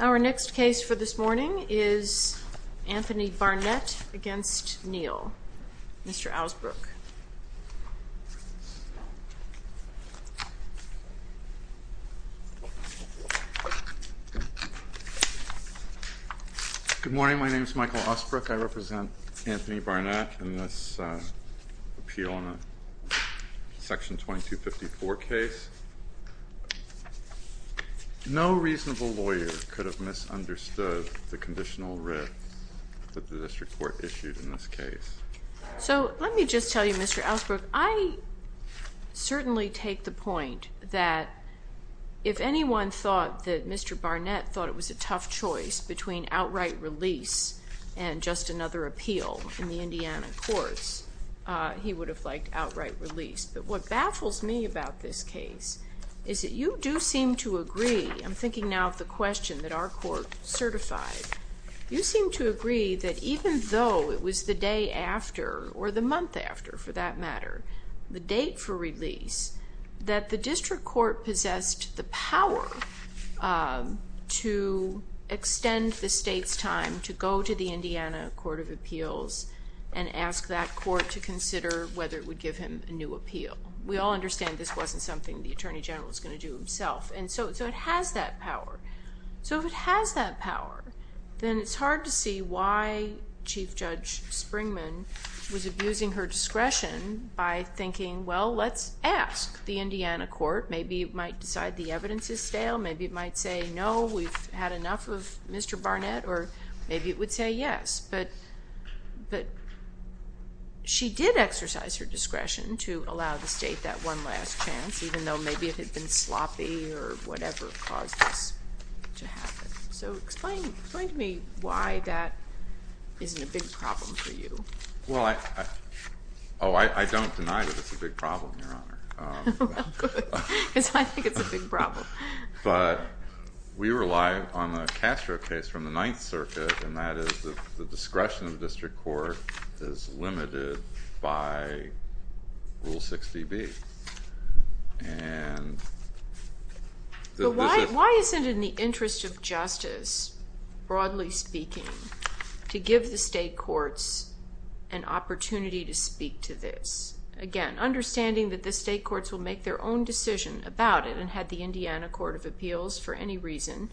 Our next case for this morning is Anthony Barnett v. Neal. Mr. Osbrook. Good morning. My name is Michael Osbrook. I represent Anthony Barnett in this appeal on a section 2254 case. No reasonable lawyer could have misunderstood the conditional writ that the district court issued in this case. So let me just tell you, Mr. Osbrook, I certainly take the point that if anyone thought that Mr. Barnett thought it was a tough choice between outright release and just another appeal in the Indiana courts, he would have liked outright release. But what baffles me about this case is that you do seem to agree, I'm thinking now of the question that our court certified, you seem to agree that even though it was the day after, or the month after for that matter, the date for release, that the district court possessed the power to extend the state's time to go to the Indiana Court of Appeals and ask that court to consider whether it would give him a new appeal. We all understand this wasn't something the Attorney General was going to do himself. And so it has that power. So if it has that power, then it's hard to see why Chief Judge Springman was abusing her discretion by thinking, well, let's ask the Indiana court. Maybe it might decide the evidence is stale, maybe it might say, no, we've had enough of Mr. Barnett, or maybe it would say yes. But she did exercise her discretion to allow the state that one last chance, even though maybe it had been sloppy or whatever caused this to happen. So explain to me why that isn't a big problem for you. Well, I don't deny that it's a big problem, Your Honor. Well, good, because I think it's a big problem. But we rely on a Castro case from the Ninth Circuit, and that is that the discretion of the district court is limited by Rule 6dB. But why isn't it in the interest of justice, broadly speaking, to give the state courts an opportunity to speak to this? Again, understanding that the state courts will make their own decision about it, and had the Indiana Court of Appeals for any reason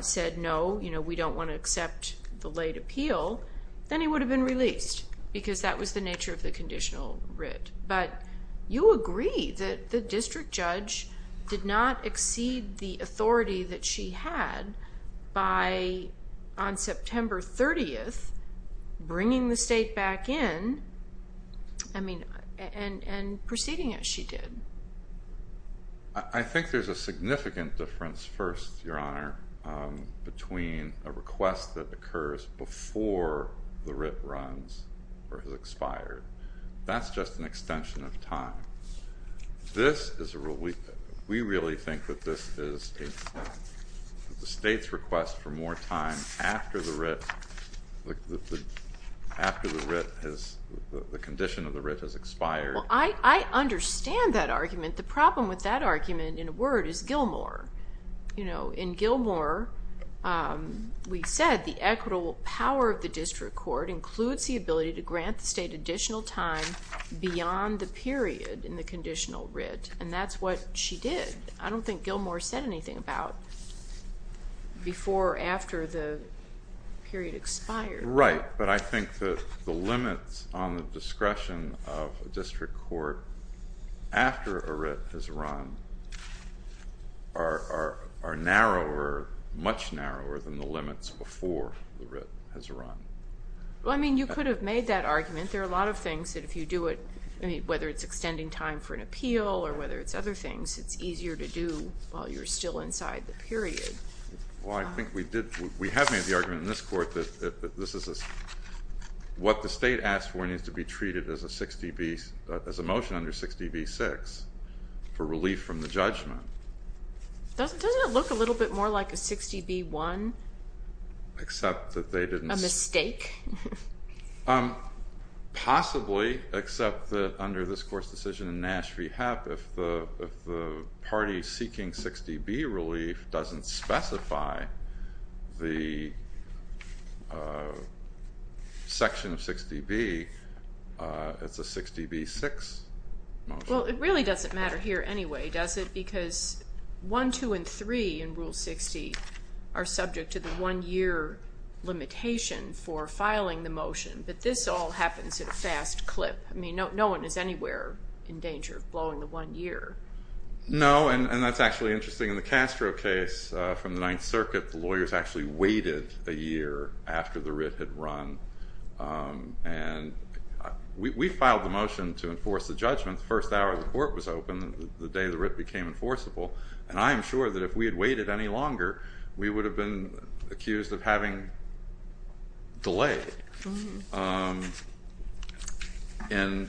said, no, we don't want to accept the late appeal, then he would have been released, because that was the nature of the conditional writ. But you agree that the district judge did not exceed the authority that she had by, on September 30th, bringing the state back in and proceeding as she did. I think there's a significant difference, first, Your Honor, between a request that occurs before the writ runs or has expired. That's just an extension of time. This is a rule, we really think that this is the state's request for more time after the writ has, the condition of the writ has expired. Well, I understand that argument. The problem with that argument, in a word, is Gilmore. You know, in Gilmore, we said the equitable power of the district court includes the ability to grant the state additional time beyond the period in the conditional writ. And that's what she did. I don't think Gilmore said anything about before or after the period expired. Right, but I think that the limits on the discretion of a district court after a writ has run are narrower, much narrower than the limits before the writ has run. Well, I mean, you could have made that argument. There are a lot of things that if you do it, whether it's extending time for an appeal or whether it's other things, it's easier to do while you're still inside the period. Well, I think we did, we have made the argument in this court that this is, what the state asked for needs to be treated as a 60B, as a motion under 60B-6 for relief from the judgment. Doesn't it look a little bit more like a 60B-1? Except that they didn't- A mistake? Possibly, except that under this court's decision in Nash v. Hepp, if the party seeking 60B relief doesn't specify the section of 60B, it's a 60B-6 motion. Well, it really doesn't matter here anyway, does it? Because 1, 2, and 3 in Rule 60 are subject to the one-year limitation for filing the motion, but this all happens at a fast clip. I mean, no one is anywhere in danger of blowing the one year. No, and that's actually interesting. In the Castro case from the Ninth Circuit, the lawyers actually waited a year after the writ had run. And we filed the motion to enforce the judgment the first hour the court was open, the day the writ became enforceable, and I am sure that if we had waited any longer, we would have been accused of having delay. And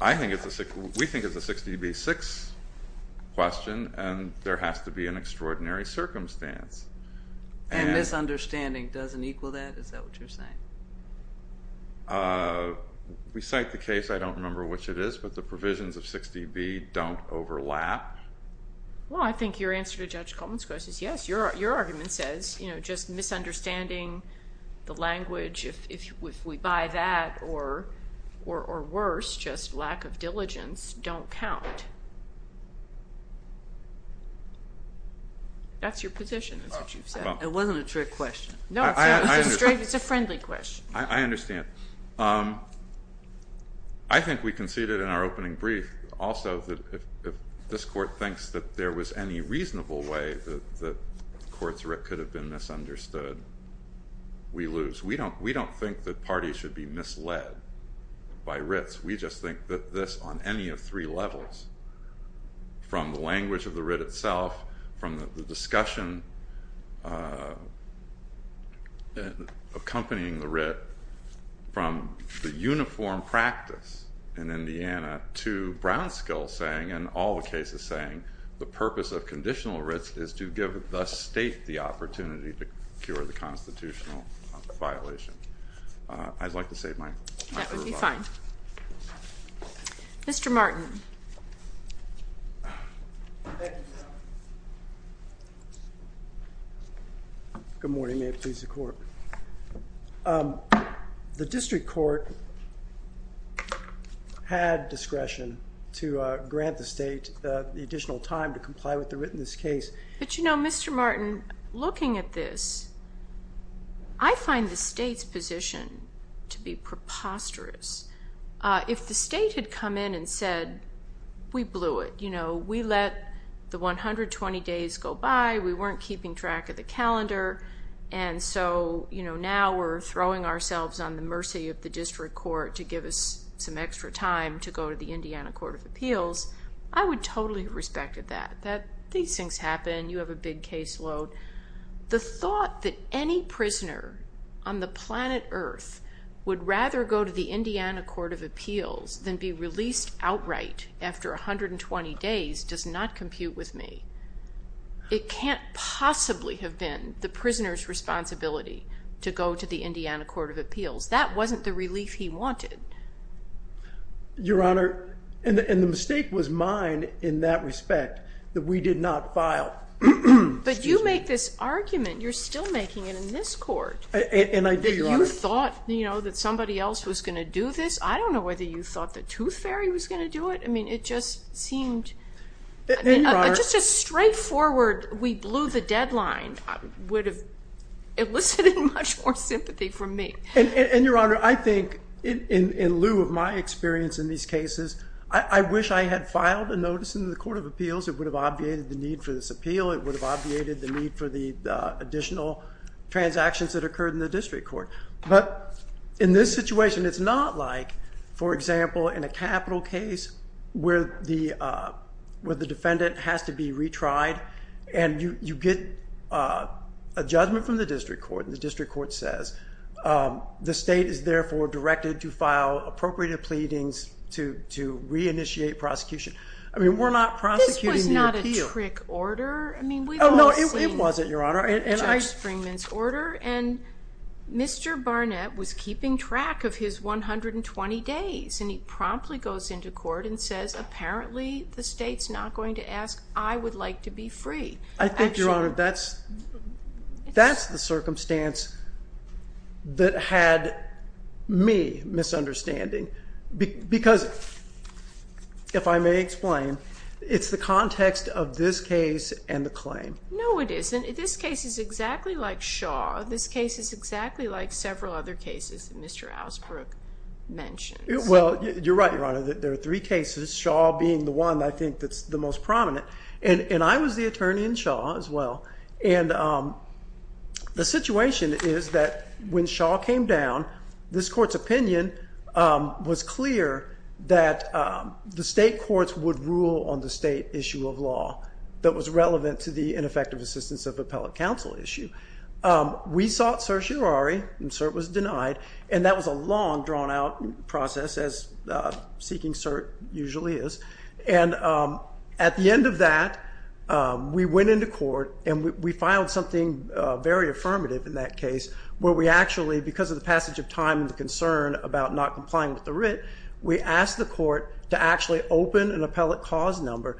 I think it's a- we think it's a 60B-6 question, and there has to be an extraordinary circumstance. And misunderstanding doesn't equal that? Is that what you're saying? We cite the case, I don't remember which it is, but the provisions of 60B don't overlap. Well, I think your answer to Judge Coleman's question is yes. Your argument says, you know, just misunderstanding the language, if we buy that, or worse, just lack of diligence, don't count. That's your position, is what you've said. It wasn't a trick question. No, it's a friendly question. I understand. I think we conceded in our opening brief also that if this court thinks that there was any reasonable way that the court's writ could have been misunderstood, we lose. We don't think that parties should be misled by writs, we just think that this, on any of three levels, from the language of the writ itself, from the discussion accompanying the writ, from the uniform practice in Indiana, to Brownskill saying, and all the cases saying, the purpose of conditional writs is to give the state the opportunity to cure the constitutional violation. I'd like to save my time. That would be fine. Mr. Martin. Good morning, may it please the court. The district court had discretion to grant the state the additional time to comply with the writtenness case. But you know, Mr. Martin, looking at this, I find the state's position to be preposterous. If the state had come in and said, we blew it, you know, we let the 120 days go by, we weren't keeping track of the calendar, and so now we're throwing ourselves on the mercy of the district court to give us some extra time to go to the Indiana Court of Appeals, I would totally have respected that. These things happen, you have a big caseload. The thought that any prisoner on the planet Earth would rather go to the Indiana Court of Appeals than be released outright after 120 days does not compute with me. It can't possibly have been the prisoner's responsibility to go to the Indiana Court of Appeals. That wasn't the relief he wanted. Your Honor, and the mistake was mine in that respect, that we did not file. But you make this argument, you're still making it in this court. And I do, Your Honor. You thought, you know, that somebody else was going to do this. I don't know whether you thought the tooth fairy was going to do it. I mean, it just seemed, just a straightforward we blew the deadline would have elicited much more sympathy from me. And Your Honor, I think, in lieu of my experience in these cases, I wish I had filed a notice in the Court of Appeals. It would have obviated the need for this appeal. It would have obviated the need for the additional transactions that occurred in the district court. But in this situation, it's not like, for example, in a capital case where the defendant has to be retried. And you get a judgment from the district court. And the district court says, the state is therefore directed to file appropriate pleadings to re-initiate prosecution. I mean, we're not prosecuting the appeal. This was not a trick order. No, it wasn't, Your Honor. And Mr. Barnett was keeping track of his 120 days. And he promptly goes into court and says, apparently, the state's not going to ask, I would like to be free. I think, Your Honor, that's the circumstance that had me misunderstanding. Because, if I may explain, it's the context of this case and the claim. No, it isn't. This case is exactly like Shaw. This case is exactly like several other cases that Mr. Alsbrook mentioned. Well, you're right, Your Honor. There are three cases, Shaw being the one, I think, that's the most prominent. And I was the attorney in Shaw, as well. And the situation is that, when Shaw came down, this court's opinion was clear that the state courts would rule on the state issue of law that was relevant to the ineffective assistance of appellate counsel issue. We sought certiorari, and cert was denied. And that was a long, drawn-out process, as seeking cert usually is. And at the end of that, we went into court, and we filed something very affirmative in that case, where we actually, because of the passage of time and the concern about not complying with the writ, we asked the court to actually open an appellate cause number.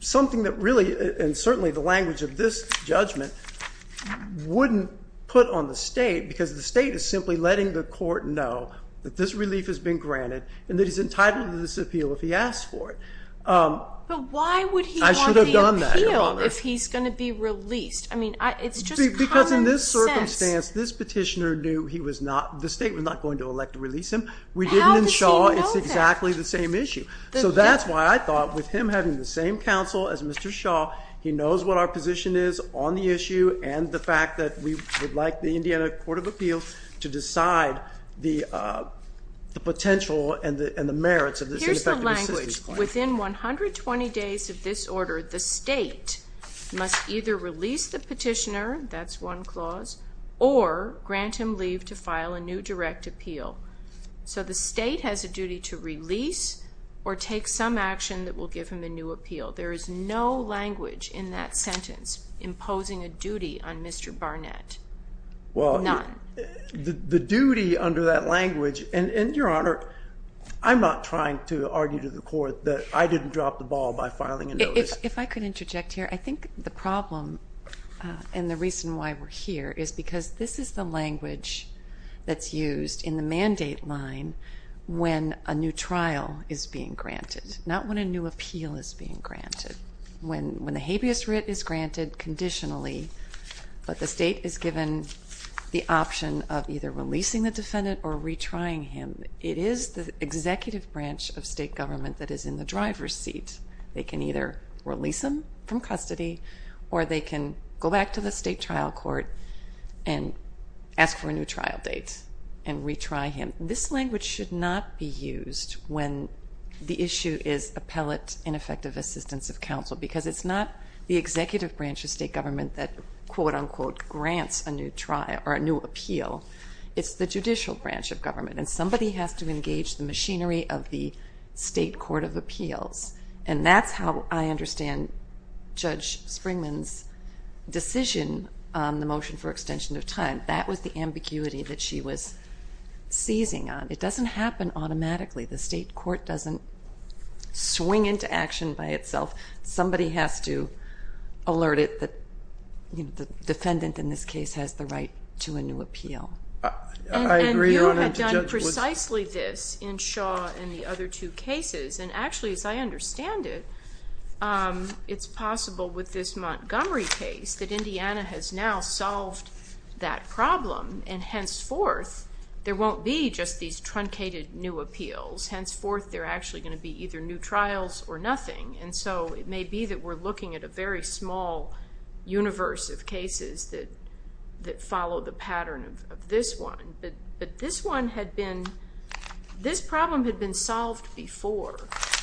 Something that really, and certainly the language of this judgment, wouldn't put on the state, because the state is simply letting the court know that this relief has been granted, and that he's entitled to this appeal if he asks for it. But why would he want the appeal if he's going to be released? I mean, it's just common sense. Because in this circumstance, this petitioner knew he was not, the state was not going to elect to release him. We didn't in Shaw. How did he know that? It's exactly the same issue. So that's why I thought, with him having the same counsel as Mr. Shaw, he knows what our position is on the issue, and the fact that we would like the Indiana Court of Appeals to decide the potential and the merits of this ineffective assistance claim. Here's the language. Within 120 days of this order, the state must either release the petitioner, that's one clause, or grant him leave to file a new direct appeal. So the state has a duty to release or take some action that will give him a new appeal. There is no language in that sentence imposing a duty on Mr. Barnett. Well, the duty under that language, and Your Honor, I'm not trying to argue to the court that I didn't drop the ball by filing a notice. If I could interject here. I think the problem and the reason why we're here is because this is the language that's used in the mandate line when a new trial is being granted, not when a new appeal is being granted. When the habeas writ is granted conditionally, but the state is given the option of either releasing the defendant or retrying him, it is the executive branch of state government that is in the driver's seat. They can either release him from custody, or they can go back to the state trial court and ask for a new trial date and retry him. This language should not be used when the issue is appellate ineffective assistance of counsel because it's not the executive branch of state government that quote unquote grants a new trial or a new appeal. It's the judicial branch of government, and somebody has to engage the machinery of the state court of appeals. And that's how I understand Judge Springman's decision on the motion for extension of time. That was the ambiguity that she was seizing on. It doesn't happen automatically. The state court doesn't swing into action by itself. Somebody has to alert it that the defendant in this case has the right to a new appeal. And you have done precisely this in Shaw and the other two cases, and actually as I understand it, it's possible with this Montgomery case that Indiana has now solved that problem. And henceforth, there won't be just these truncated new appeals. Henceforth, there are actually going to be either new trials or nothing. And so it may be that we're looking at a very small universe of cases that follow the pattern of this one. But this one had been, this problem had been solved before.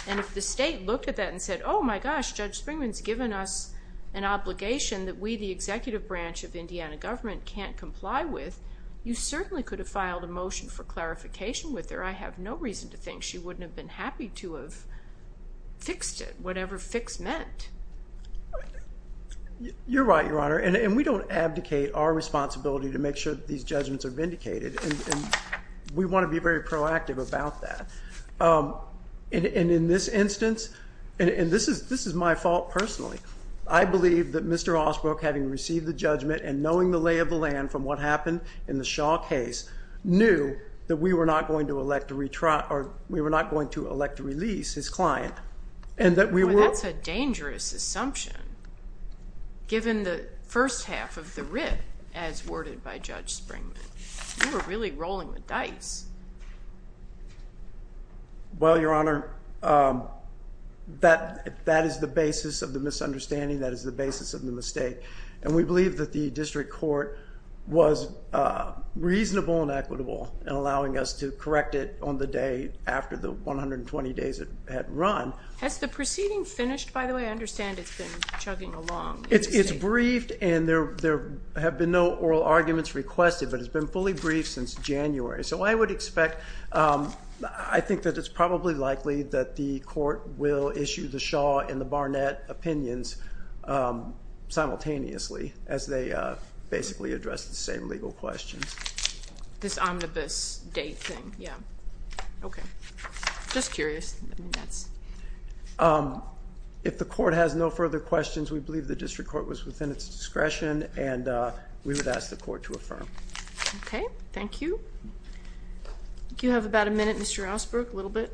And if the state looked at that and said, oh my gosh, Judge Springman's given us an obligation that we, the executive branch of the Indiana government, can't comply with, you certainly could have filed a motion for clarification with her. I have no reason to think she wouldn't have been happy to have fixed it, whatever fixed meant. You're right, Your Honor. And we don't abdicate our responsibility to make sure that these judgments are vindicated. And we want to be very proactive about that. And in this instance, and this is my fault personally, I believe that Mr. Osbrook, having received the judgment and knowing the lay of the land from what happened in the Shaw case, knew that we were not going to elect to release his client. That's a dangerous assumption, given the first half of the writ as worded by Judge Springman. You were really rolling the dice. Well, Your Honor, that is the basis of the misunderstanding. That is the basis of the mistake. And we believe that the district court was reasonable and equitable in allowing us to correct it on the day after the 120 days it had run. Has the proceeding finished, by the way? I understand it's been chugging along. It's briefed and there have been no oral arguments requested, but it's been fully briefed since January. So I would expect, I think that it's probably likely that the court will issue the Shaw and the Barnett opinions simultaneously as they basically address the same legal questions. This omnibus date thing, yeah. Okay. Just curious. If the court has no further questions, we believe the district court was within its discretion and we would ask the court to affirm. Okay. Thank you. You have about a minute, Mr. Ellsberg, a little bit.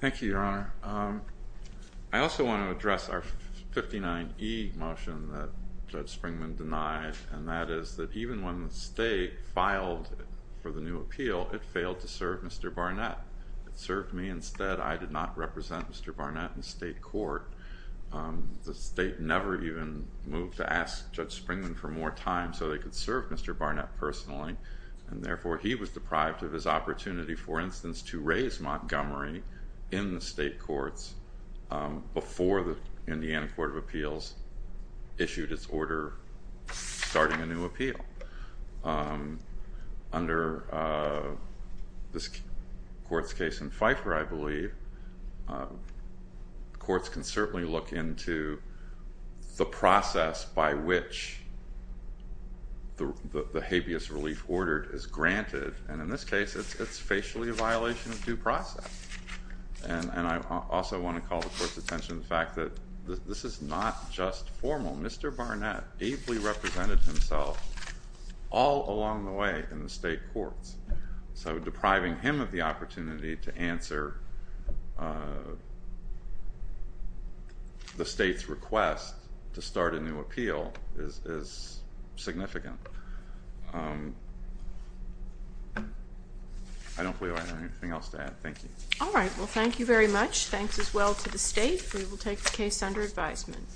Thank you, Your Honor. I also want to address our 59E motion that Judge Springman denied, and that is that even when the state filed for the new appeal, it failed to serve Mr. Barnett. It served me instead. I did not represent Mr. Barnett in state court. The state never even moved to ask Judge Springman for more time so they could serve Mr. Barnett personally, and therefore he was deprived of his opportunity, for instance, to raise Montgomery in the state courts before the Indiana Court of Appeals issued its order starting a new appeal. Under this court's case in Pfeiffer, I believe, courts can certainly look into the process by which the habeas relief order is granted, and in this case it's facially a violation of due process. And I also want to call the court's attention to the fact that this is not just formal. Mr. Barnett ably represented himself all along the way in the state courts, so depriving him of the opportunity to answer the state's request to start a new appeal is significant. I don't believe I have anything else to add. Thank you. All right. Well, thank you very much. Thanks as well to the state. We will take the case under advisement.